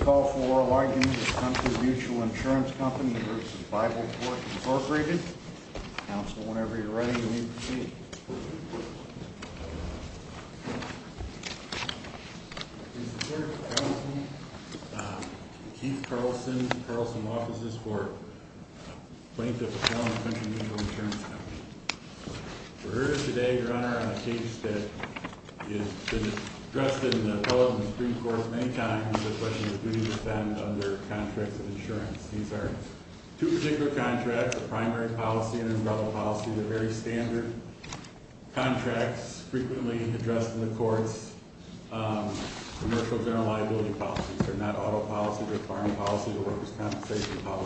Call For Largely Coun Company versus Bible wor whenever you're ready to for plaintiff insurance c today on a case that is d appellate in the Supreme the question is, do you s of insurance? These are t the primary policy and unv very standard contracts f the courts. Um, commercia policies are not auto pol workers compensation poli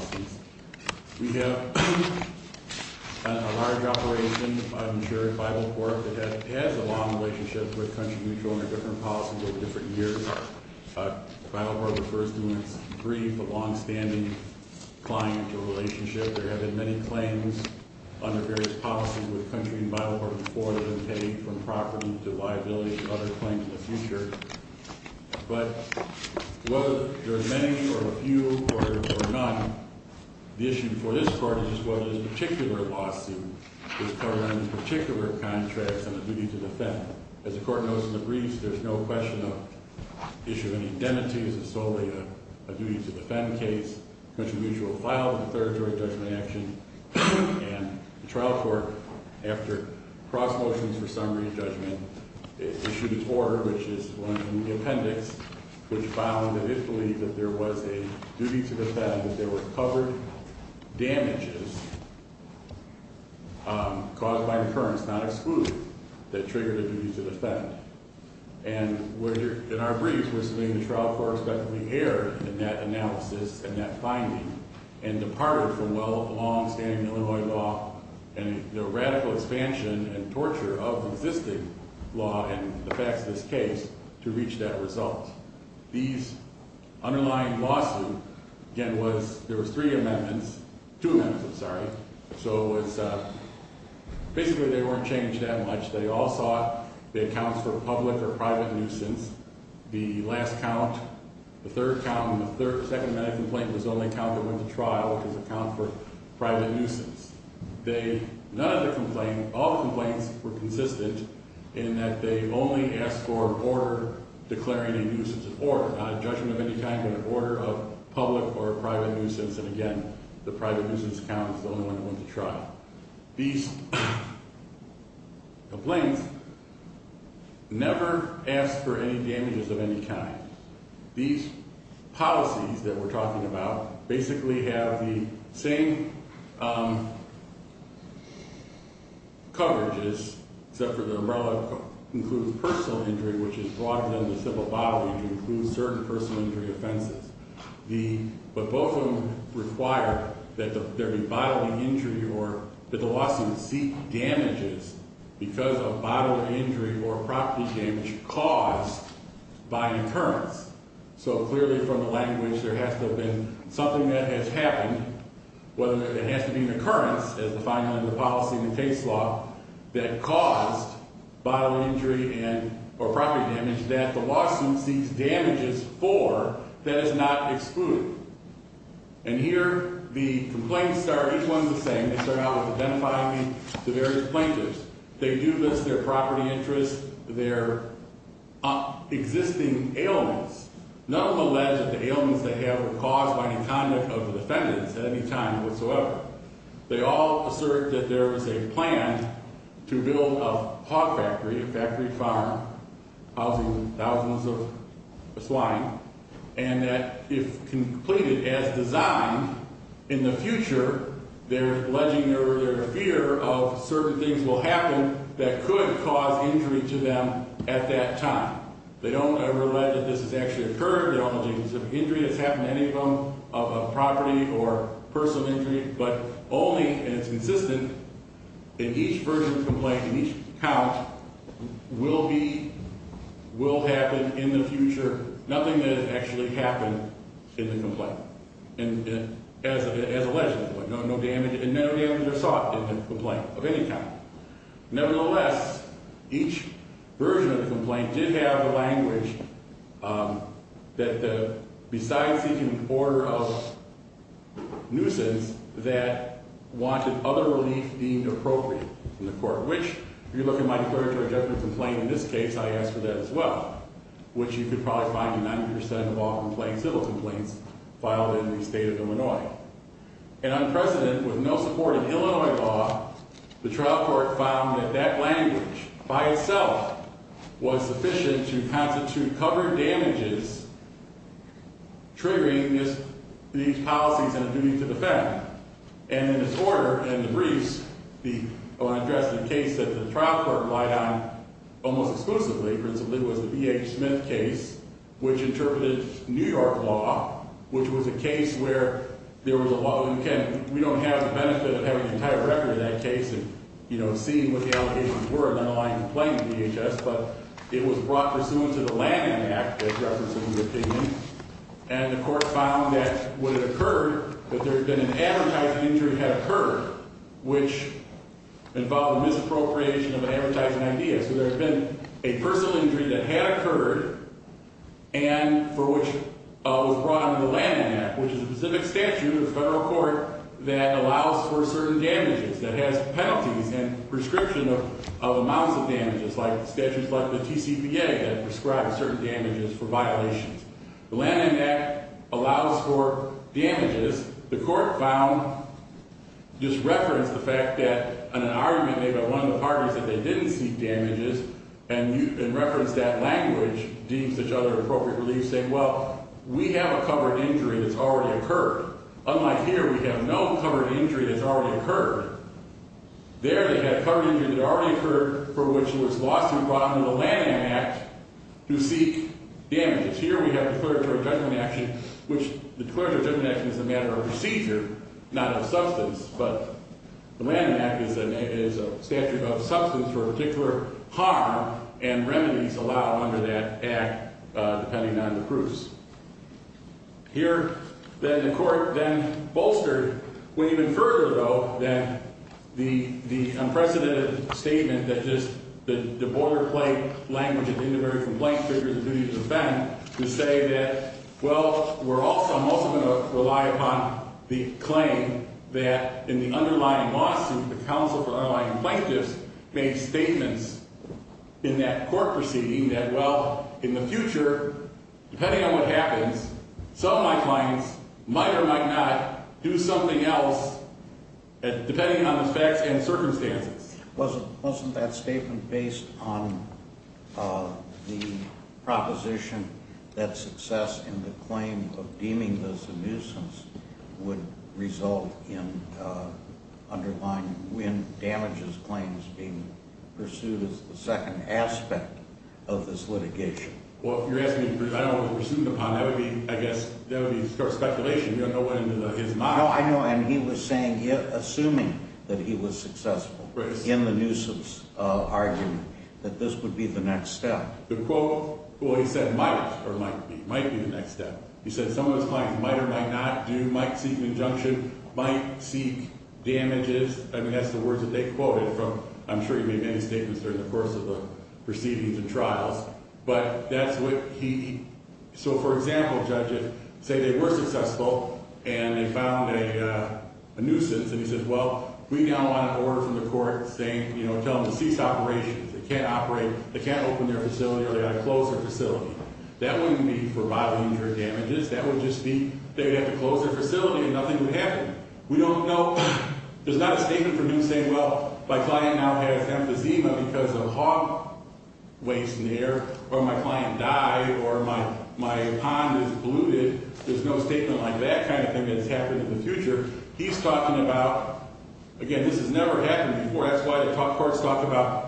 operation. I'm sure Bible long relationship with co or different years. Uh, B when it's brief, a longst relationship. There have under various policies wi before they've been paid liability and other claim whether there are many or the issue for this part i lawsuit is covering the p on the duty to defend as there's no question of is solely a duty to defend c filed in the third jury j trial court after cross m of judgment issued its or in the appendix, which fo that there was a duty to covered damages um, caus not exclude that triggered And we're in our briefs w trial for expecting the a and that finding and depa longstanding Illinois law and torture of existing l this case to reach that r lawsuit again was there w two minutes. I'm sorry. S weren't changed that much accounts for public or pr count. The third count, th complaint was only counte is account for private nu other complaint. All compl in that they only asked f a nuisance of order, not of any kind of order of p nuisance. And again, the accountants, the only onl These policies that we're have the same um, coverag umbrella includes persona injury, which is broader includes certain persona but both of them require injury or that the lawsuit of bodily injury or propr by an occurrence. So clea there has to have been so happened, whether it has as the final in the polic law that caused bodily in damage that the lawsuit s is not excluded. And here are each one of the same. me to various plaintiffs. their property interest, ailments. None of the leg they have caused by any c at any time whatsoever. T was a plan to build a hog farm housing thousands o that if completed as desi they're alleging their fe will happen that could ca at that time. They don't has actually occurred. Th has happened to any of the or personal injury, but o in each version of the co will be will happen in th that actually happened in as a, as a legend, no, no are sought in the complaint less each version of the have the language, um, th order of nuisance that wa deemed appropriate in the look at my declaratory de this case, I asked for th could probably find 90% o complaints filed in the s unprecedented with no sup law. The trial court found language by itself was su covered damages, triggeri and a duty to defend. And the briefs, the address t trial court lied on almos was the B. H. Smith case, New York law, which was a was a lot of you can, we d of having the entire recor that case and you know, s were an unaligned complai was brought pursuant to t opinion. And of course, f occurred that there's bee had occurred, which invol of an advertising idea. S a personal injury that ha which was brought into th specific statute of the F that allows for certain d and prescription of amoun statutes like the T. C. P certain damages for viola allows for damages. The c reference the fact that a by one of the parties tha damages and you can refer deems each other appropri we have a covered injury t Unlike here, we have no c already occurred there. T that already occurred for brought into the land act Here we have a clerical ju the clerical connection i procedure, not of substan act is a statute of subst harm and remedies allow u act depending on the proo court then bolstered when that the unprecedented st the border plate language figures and duty to defend we're also most of them re that in the underlying la for underlying plaintiff' statements in that court well, in the future, depe some of my clients might else depending on the fac wasn't wasn't that statem proposition that success of deeming this a nuisance would result in uh underl claims being pursued as t of this litigation. Well, I don't want to presume t I guess that would be a sc don't know what is not. N assuming that he was succ argument that this would quote, well, he said might the next step. He said so might or might not do, mi might seek damages. I mea they quoted from. I'm sure during the course of the p But that's what he, so fo they were successful and and he said, well, we now the court saying, you kno operations, they can't op their facility or they go That wouldn't be for bott that would just be, they facility and nothing woul know, there's not a state well, my client now has e hog waste in the air or m my, my pond is polluted. like that kind of thing t future. He's talking abou talked about.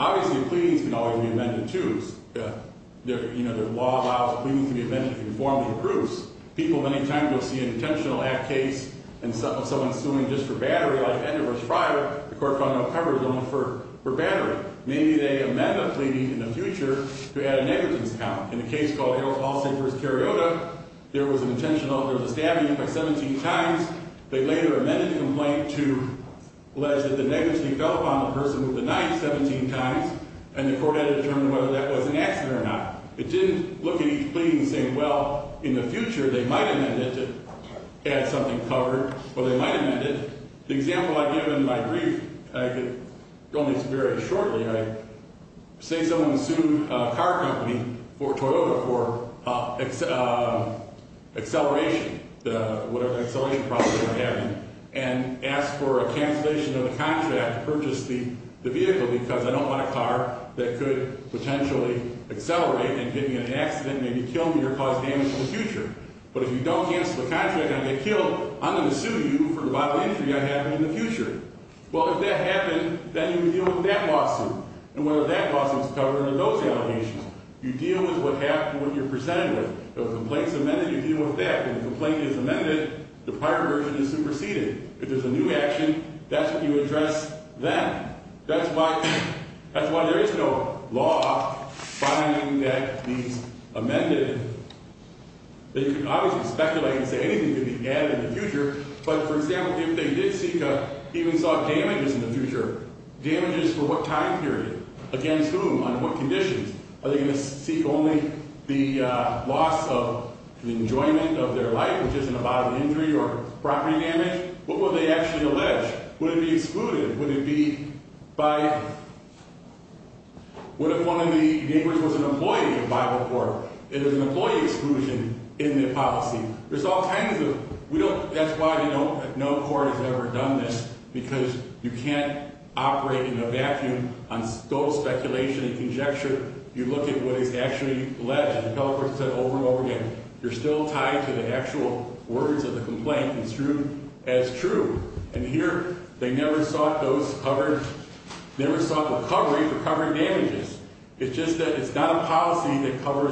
Obviously p be amended to their, you allows, we need to be ame people. Many times we'll act case and someone suing like end of us prior, the only for battery. Maybe t in the future to add a ne called all safers Cariota there was a stabbing by 1 amended complaint to let fell upon the person with the court had to determine an accident or not. It di and saying, well, in the amended to add something might amend it. The examp I could go on this very s sued a car company for To the, whatever the accelera and asked for a cancelati purchase the vehicle beca I don't want a car that c accelerate and getting an kill me or cause damage i you don't cancel the cont I'm going to sue you for I have in the future. Wel you can deal with that la that was covered in those deal with what happened w The complaints amended, y When the complaint is ame is superseded. If there's you address them. That's w is no law finding that th obviously speculate and s be added in the future. B they did see even saw dama damages for what time per on what conditions are the the loss of the enjoyment isn't about an injury or What will they actually a excluded? Would it be by the neighbors was an emplo It is an employee exclusi There's all kinds of, we you know, no court has ev you can't operate in a va and conjecture. You look alleged. The pelican said You're still tied to the of the complaint is true they never saw those cove recovery for covering dam it's not a policy that co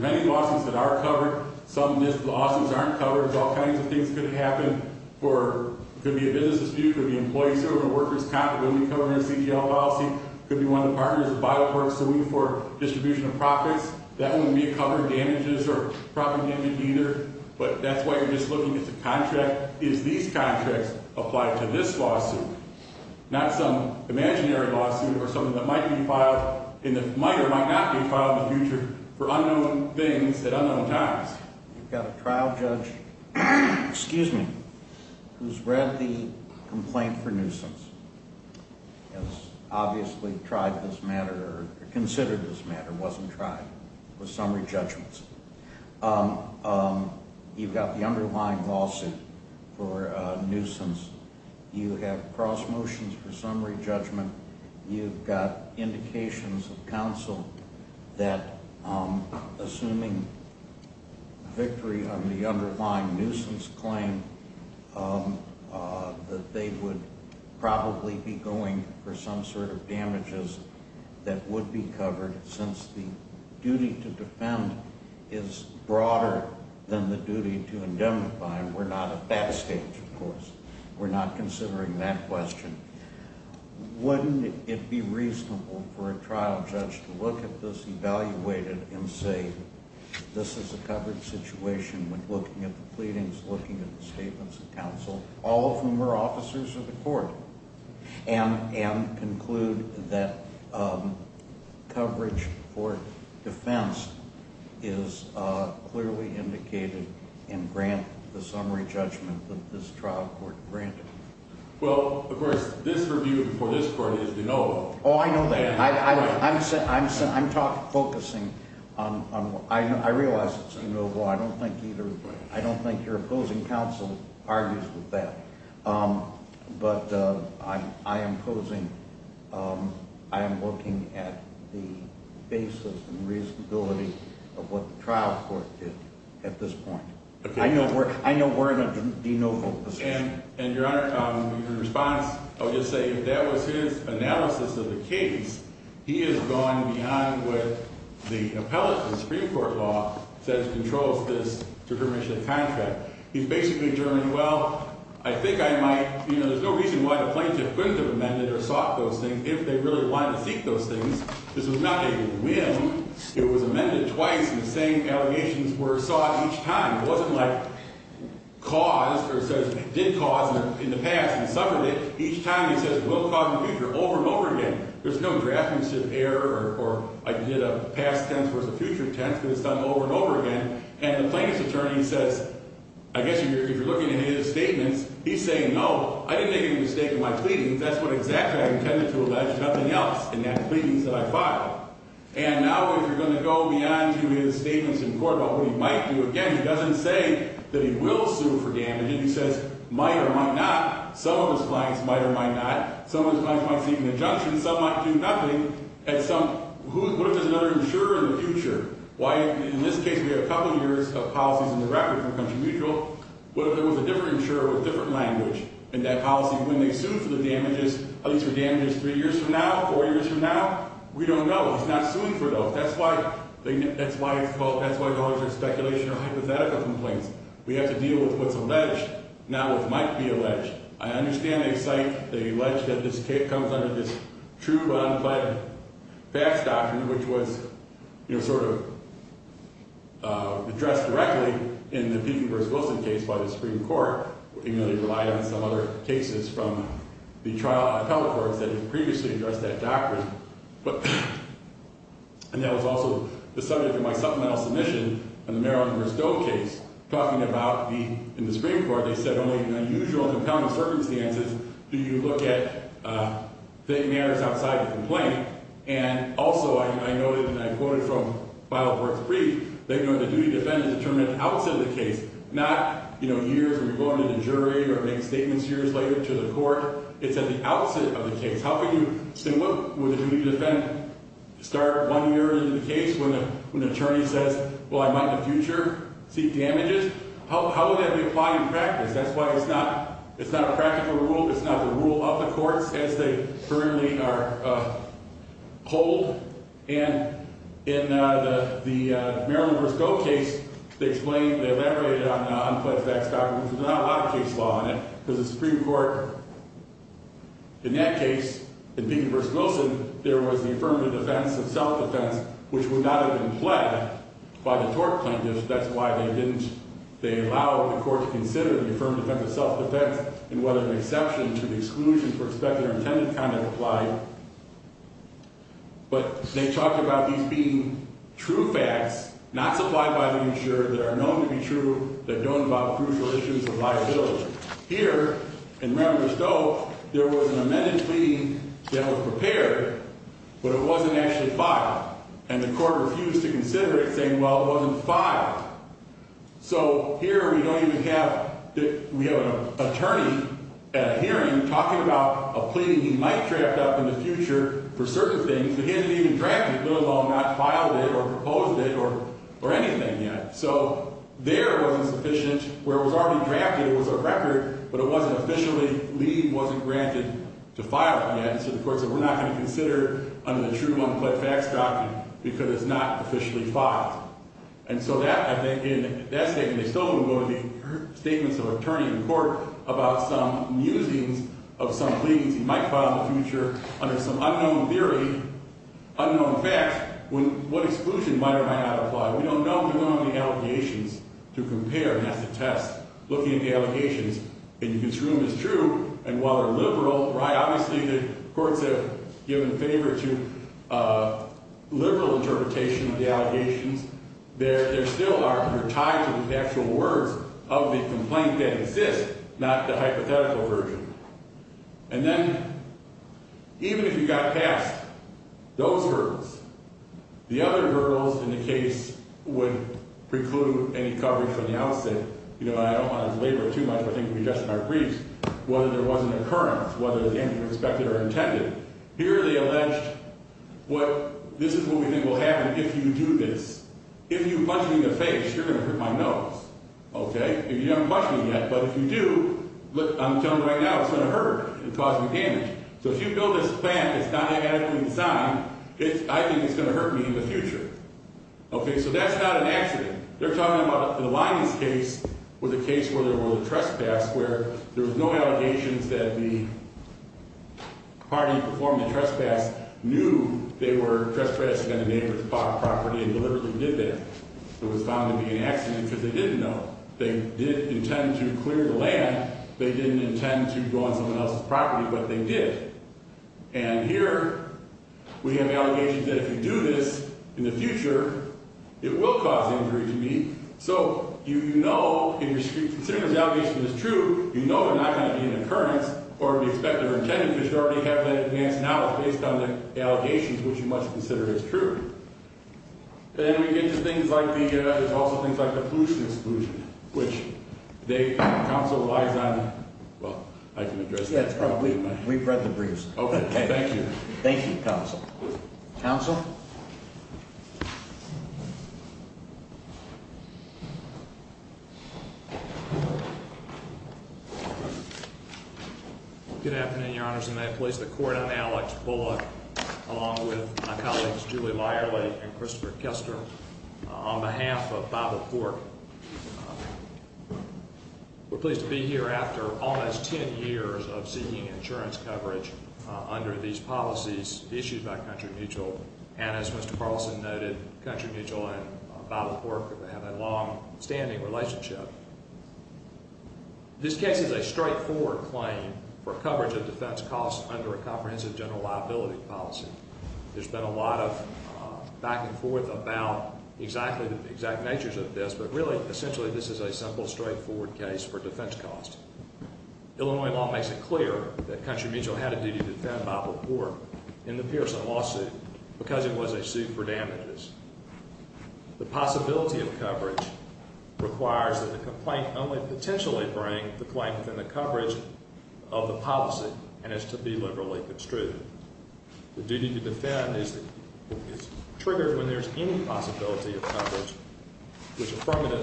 many losses that are cove aren't covered. All kinds happen or could be a busi employees or workers comp C. T. L. Policy could be by the court suing for di That wouldn't be covered damages or probably even why you're just looking i these contracts applied t some imaginary lawsuit or be filed in the minor, mi the future for unknown th You've got a trial judge, read the complaint for nu tried this matter or cons wasn't tried with summary got the underlying lawsui have cross motions for su got indications of counci on the underlying nuisance would probably be going f damages that would be cov to defend is broader than by. We're not at that sta not considering that quest reasonable for a trial ju evaluated and say this is when looking at the plea statements of counsel, al of the court and and conc for defense is clearly in summary judgment of this Well, of course, this rev is, you know, oh, I know focusing on. I realize it think either. I don't thin counsel argues with that. posing. Um, I am looking and reasonability of what it at this point. I know, in a de novo and your hono just say that was his ana He is going behind with t law that controls this to He's basically Germany. W you know, there's no reaso couldn't have amended or s if they really want to se was not a win. It was ame allegations were sought e like cause or says did ca suffered it each time. He future over and over again there's no draftmanship e tense versus the future t over and over again. And says, I guess if you're l he's saying, no, I didn't my pleadings. That's what to allege. Nothing else i that I filed. And now if to his statements in court do again, he doesn't say for damage. And he says m of his clients might or m might seek an injunction. at some, what if there's future? Why? In this case of policies in the record What if there was a differ language and that policy the damages, at least for from now, four years from know, he's not suing for why it's called. That's w or hypothetical complaints with what's alleged. Now I understand they cite, t this comes under this tru which was sort of uh, add the people versus Wilson Court. You know, they rel from the trial. I've tell addressed that doctrine. also the subject of my su and the Maryland versus D about the in the Supreme Court. They said only an circumstances. Do you loo outside the complaint? An I quoted from file works the duty defendants determ the case, not, you know, to the jury or make statem to the court. It's at the case. How can you say wha start one year in the cas says, well, I might in th How, how would that be ap That's why it's not, it's rule. It's not the rule o they currently are hold a go case. They explained t facts documents. There's on it because the Supreme and people versus Wilson. defense of self defense, would not have been pled That's why they didn't. T to consider the affirmed and whether an exception for expected or intended they talked about these b supplied by the insurer t be true that don't involv liability here. And rembe an amended plea that was it wasn't actually filed. to consider it saying, w So here we don't even hav at a hearing talking abou might draft up in the fut but he didn't even draft it or proposed it or or a wasn't sufficient where w It was a record, but it w leave wasn't granted to f courts that we're not goi the true unpled facts doc officially filed. And so they still won't go to th attorney in court about s pleadings he might file i some unknown theory, unkn exclusion might or might don't know. We don't have to compare and that's a t allegations in his room i while they're liberal, ri have given favor to uh li the allegations there, th tied to the actual words that exist, not the hypo then even if you got past other hurdles in the case any coverage from the out I don't want to deliver t we just our briefs, whethe current, whether it's an intended. Here they alleg we think will happen if y punching the face, you're Okay, if you haven't ques you do, I'm telling you r hurt and causing damage. plant, it's not a good si going to hurt me in the f that's not an accident. T the lion's case was a cas a trespass where there wa that the party performed they were trespassing on and deliberately did that be an accident because th did intend to clear the l to go on someone else's p did. And here we have all do this in the future, it to me. So, you know, as s is true, you know, they'r occurrence or we expect t already have an advance n which you must consider i get to things like the, y like the pollution excluj we've read the briefs. Ok Thank you. Mhm. Good afte may place the court on Al my colleagues, Julie Liar Kester on behalf of Bible to be here after almost 1 insurance coverage under by country mutual. And as country mutual and Bible relationship. This case i claim for coverage of def a comprehensive general l been a lot of back and fo the exact natures of this this is a simple, straigh cost. Illinois law makes mutual had a duty to defend in the Pearson lawsuit be for damages. The possibli that the complaint only p within the coverage of th be liberally construed. T is triggered when there's of coverage, which affirm that.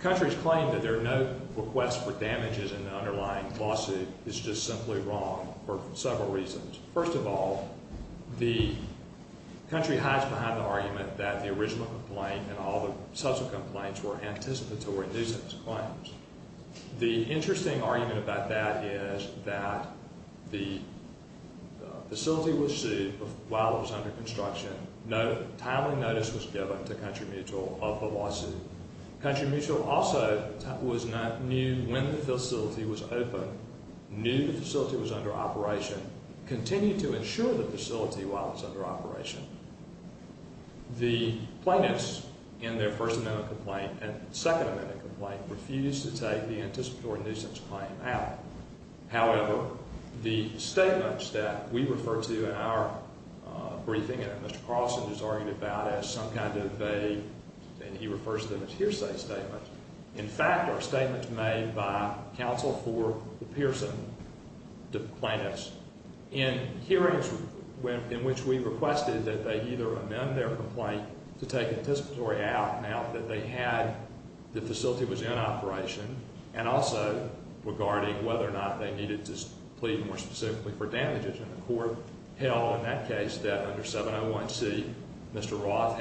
Countries claim tha for damages in the underl simply wrong for several all the country hides beh that the original complai complaints were anticipato The interesting argument the facility was sued whi timely notice was given t of the lawsuit. Country m knew when the facility wa was under operation, cont facility while it's under in their first amendment amendment complaint refus nuisance claim out. Howev we refer to in our briefi is arguing about as some refers to them as hearsay are statements made by co the plaintiffs in hearings that they either amend th anticipatory out now that was in operation and also not, they needed to plea for damages. And the cour that under 701 C. Mr. Roth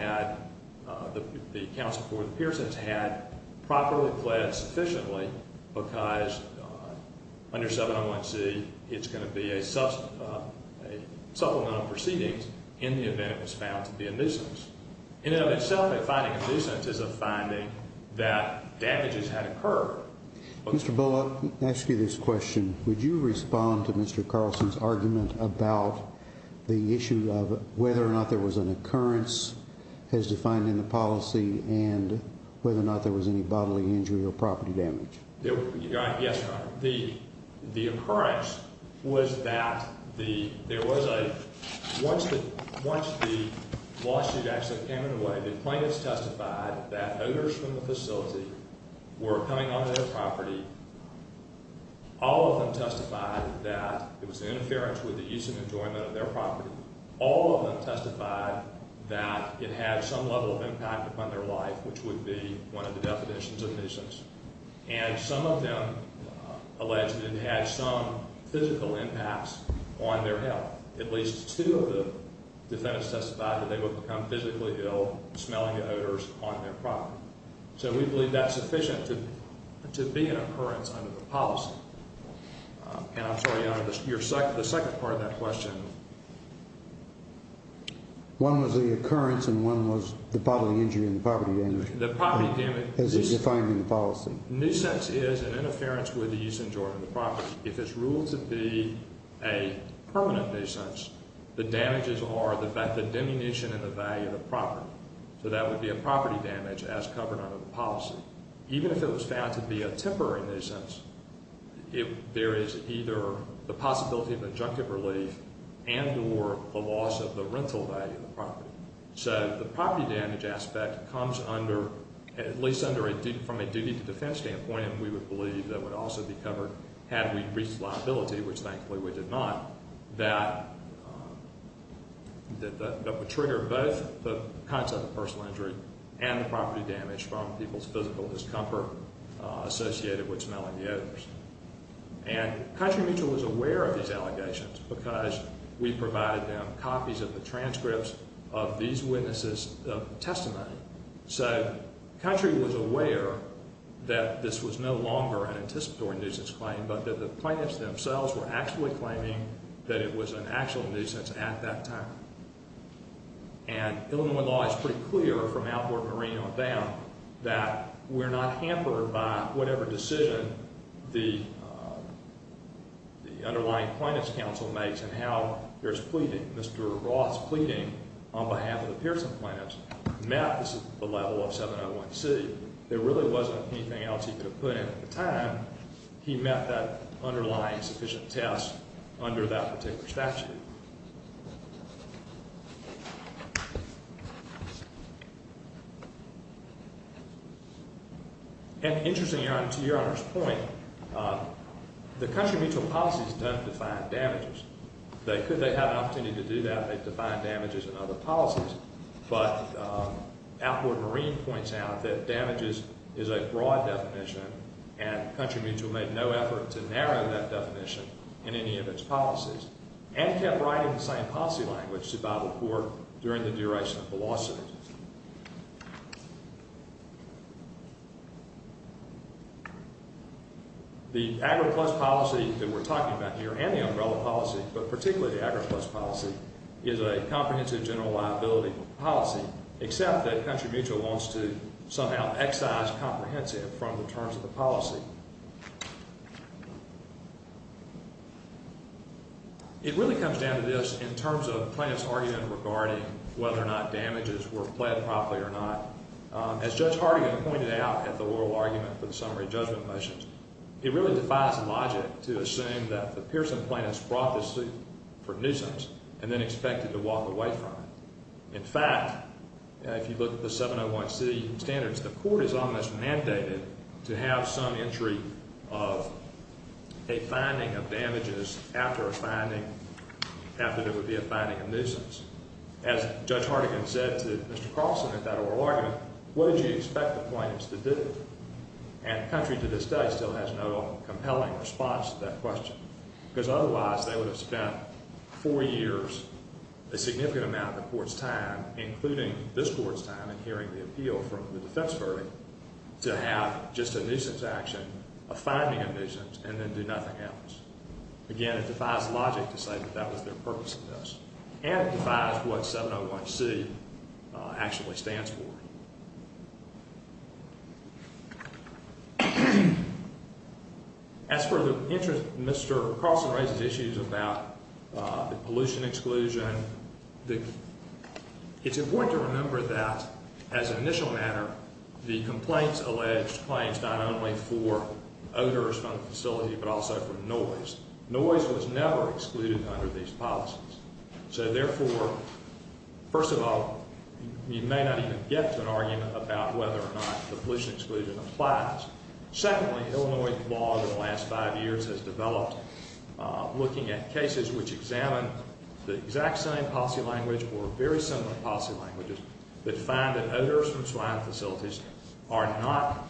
for the Pearson's had pro because under 701 C. It's a supplemental proceedings was found to be a nuisance finding a nuisance is a f had occurred. Mr Bullock, Would you respond to Mr C about the issue of whethe an occurrence has defined whether or not there was or property damage. Yes, that the there was a once actually came in the way that owners from the faci their property. All of th it was an interference wit enjoyment of their proper that it had some level of life, which would be one of the nuisance. And some it had some physical impa At least two of the defen become physically ill, sm their property. So we bel to to be an occurrence un I'm sorry, your second, t question. One was the occ the public injury in the damage is defined in the an interference with the property. If it's ruled t the damages are the fact value of the property. So damage as covered under t it was found to be a temp there is either the possi relief and or the loss of property. So the property under at least under a de standpoint, we would belie be covered had we reached we did not that that woul of personal injury and th from people's physical di with smelling the others. was aware of these allega them copies of the transc of testimony. So country was no longer an anticipa claim, but the plaintiffs claiming that it was an a that time. And Illinois l from Alport Marine on dow by whatever decision the counsel makes and how the pleading on behalf of the is the level of 701 C. Th else he could have put in that underlying sufficient particular statute. Yeah. your honor's point. Uh, t doesn't define damages. T an opportunity to do that and other policies. But u that damages is a broad d mutual made no effort to in any of its policies an same policy language to b the duration of velocity. policy that we're talking umbrella policy, but partic policy is a comprehensive general liability policy mutual wants to somehow e from the terms of the pol comes down to this in term regarding whether or not properly or not. As Judge at the oral argument for motions, it really defies that the Pearson plaintiff for nuisance and then expe from. In fact, if you look standards, the court is o have some entry of a findi a finding after there woul nuisance. As Judge Hardig at that oral argument, wh plaintiffs to do? And the still has no compelling r that question because oth have spent four years, a the court's time, includi and hearing the appeal fr to have just a nuisance a and then do nothing else. logic to say that that wa this and it defies what 7 Mr. Carson raises issues exclusion. It's important as an initial matter, the claims, not only for odor but also from noise. Nois under these policies. So of all, you may not even about whether or not the applies. Secondly, Illinois last five years has develo which examine the exact s or very similar policy la that others from swine fa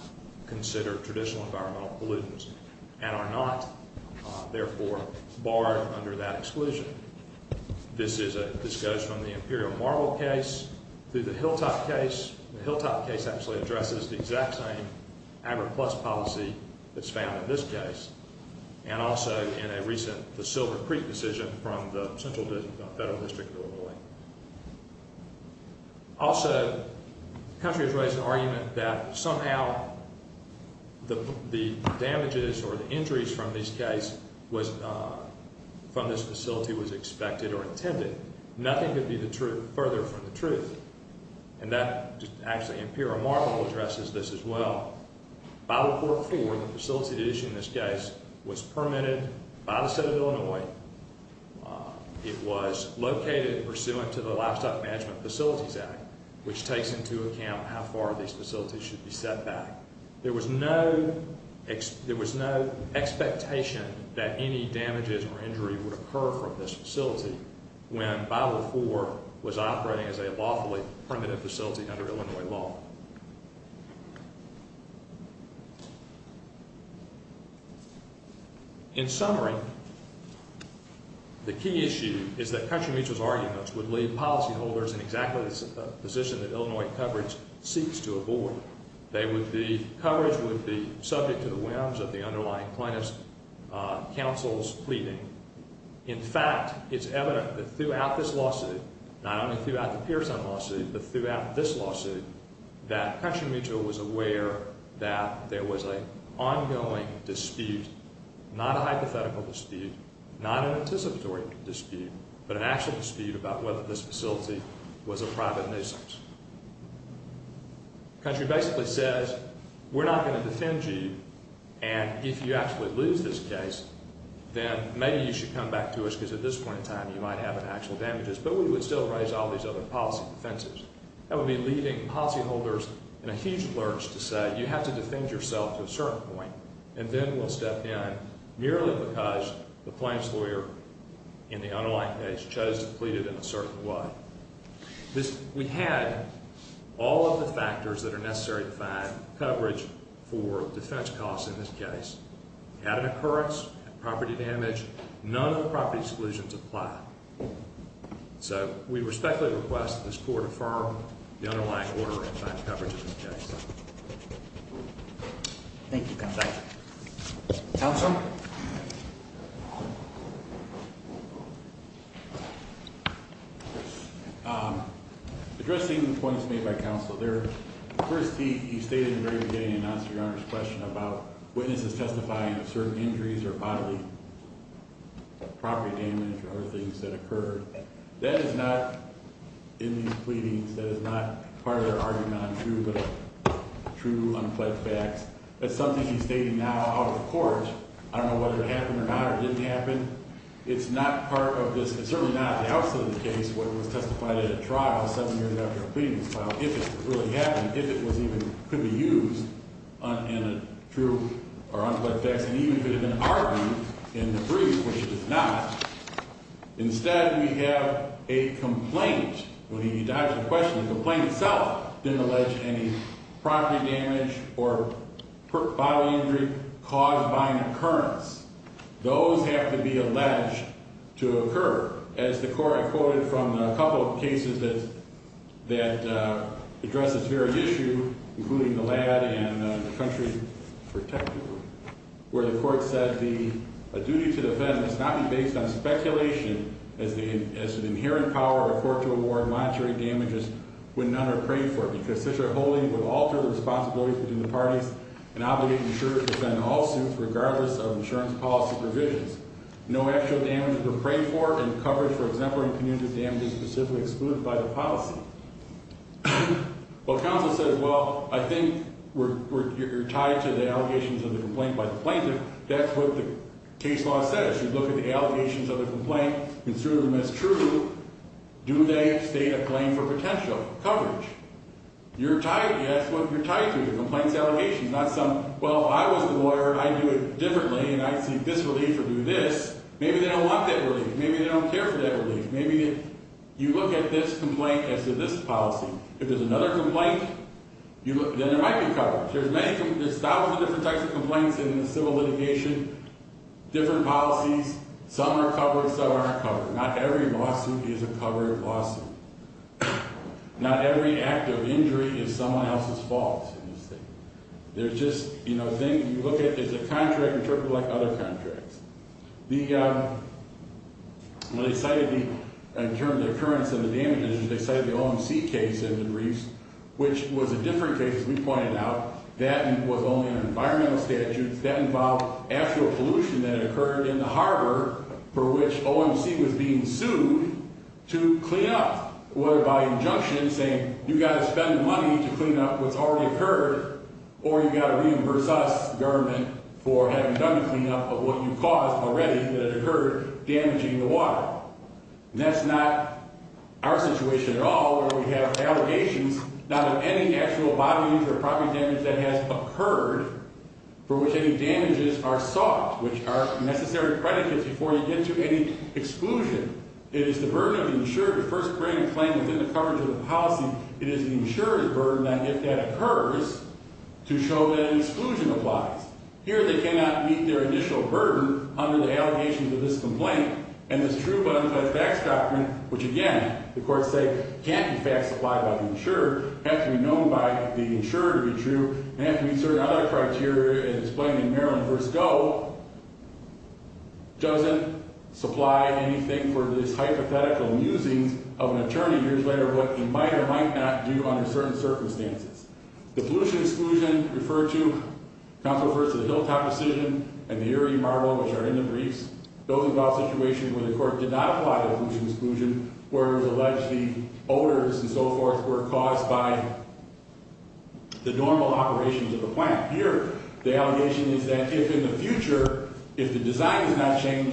traditional environmental not therefore barred unde This is a discussion of t case through the hilltop case actually addresses t policy that's found in th in a recent the silver pr the central federal distr country has raised an argu the damages or the injuri was from this facility wa Nothing could be the trut truth. And that just actu this as well. By report f issue. In this case was p of Illinois. Uh, it was l the Livestock Management takes into account how fa should be set back. There was no expectation that a would occur from this fac was operating as a lawful facility under Illinois l key issue is that country would leave policyholders that Illinois coverage se would be coverage would b of the underlying plaint pleading. In fact, it's e this lawsuit, not only th but throughout this lawsu was aware that there was not a hypothetical dispu dispute, but an actual di this facility was a priva says we're not going to d actually lose this case, come back to us because a you might have an actual we would still raise all defenses. That would be l in a huge lurch to say yo yourself to a certain poi step in merely because th the unlikeness chose to p way this. We had all of t necessary to find coverag in this case, had an occu None of the property excl we respectfully request t the underlying order of c Thank you. Council. Um, a made by council there. Fi very beginning and answer about witnesses testifying of certain injuries or b or other things that occu in these pleadings. That arguing on true, true, un something you stated now don't know whether it hap happened. It's not part o not the opposite of the c at a trial seven years af it really happened, if it could be used in a true o even could have been argu which is not. Instead, we when he died, the question didn't allege any property injury caused by an occur to be alleged to occur as from a couple of cases th address this very issue, and the country protecti the duty to defend must n as the inherent power of damages when none are pra holding would alter the r the parties and obligate regardless of insurance p No actual damage to pray for example, in community excluded by the policy. W well, I think we're tied of the complaint by the p law says. You look at the complaint, consider them a claim for potential cov you're tied to the compla some. Well, I was the law and I think this relief w they don't want that relie for that relief. Maybe yo as to this policy. If the you look, then there might many, there's thousands o complaints in the civil l policies. Some are covera Not every lawsuit is a co every act of injury is so in this thing. There's ju you look at there's a con like other countries. The in terms of occurrence of cited the O. M. C. Case i was a different case. We was only an environmental after a pollution that oc for which O. M. C. Was be were by injunction saying money to clean up what's or you got to reimburse u done to clean up of what that occurred, damaging t our situation at all. We not have any actual body that has occurred for whi are sought, which are nec before you get to any exc burden of insurer to firs the coverage of the polic is the insurer's burden t to show that exclusion ap cannot meet their additio allegations of this compl but in fact, that's docto say can't be faxed, apply have to be known by the i have to be certain other Maryland first go doesn't for this hypothetical amu attorney years later, wha do under certain circumst exclusion referred to, c hilltop decision and the are in the briefs building where the court did not a where it was alleged the were caused by the normal plant here. The allegati in the future, if the des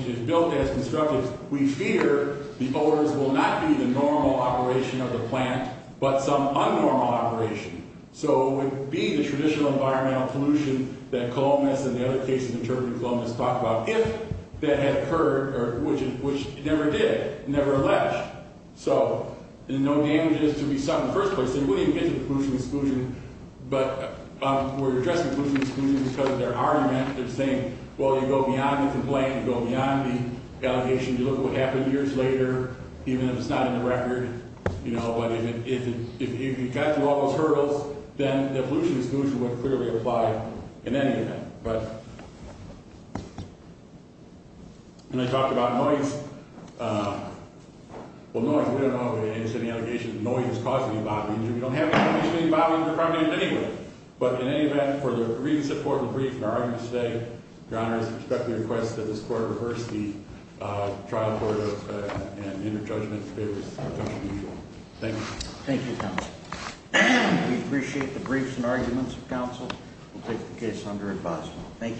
is built as constructive, we fear the owners will n of the plant, but some un would be the traditional that columbus and the oth Columbus talked about if which never did, never al to be something in the fi even get to the pollution addressing pollution excl argument. They're saying Well, you go beyond the c the allegation. You look later, even if it's not i know, but if you've got t then the pollution exclus apply in any event. But th noise. Uh, well, no, we d allegations of noise is c We don't have any body in But in any event, for the today, your honor is expe this court reversed the t judgment. Thank you. Thank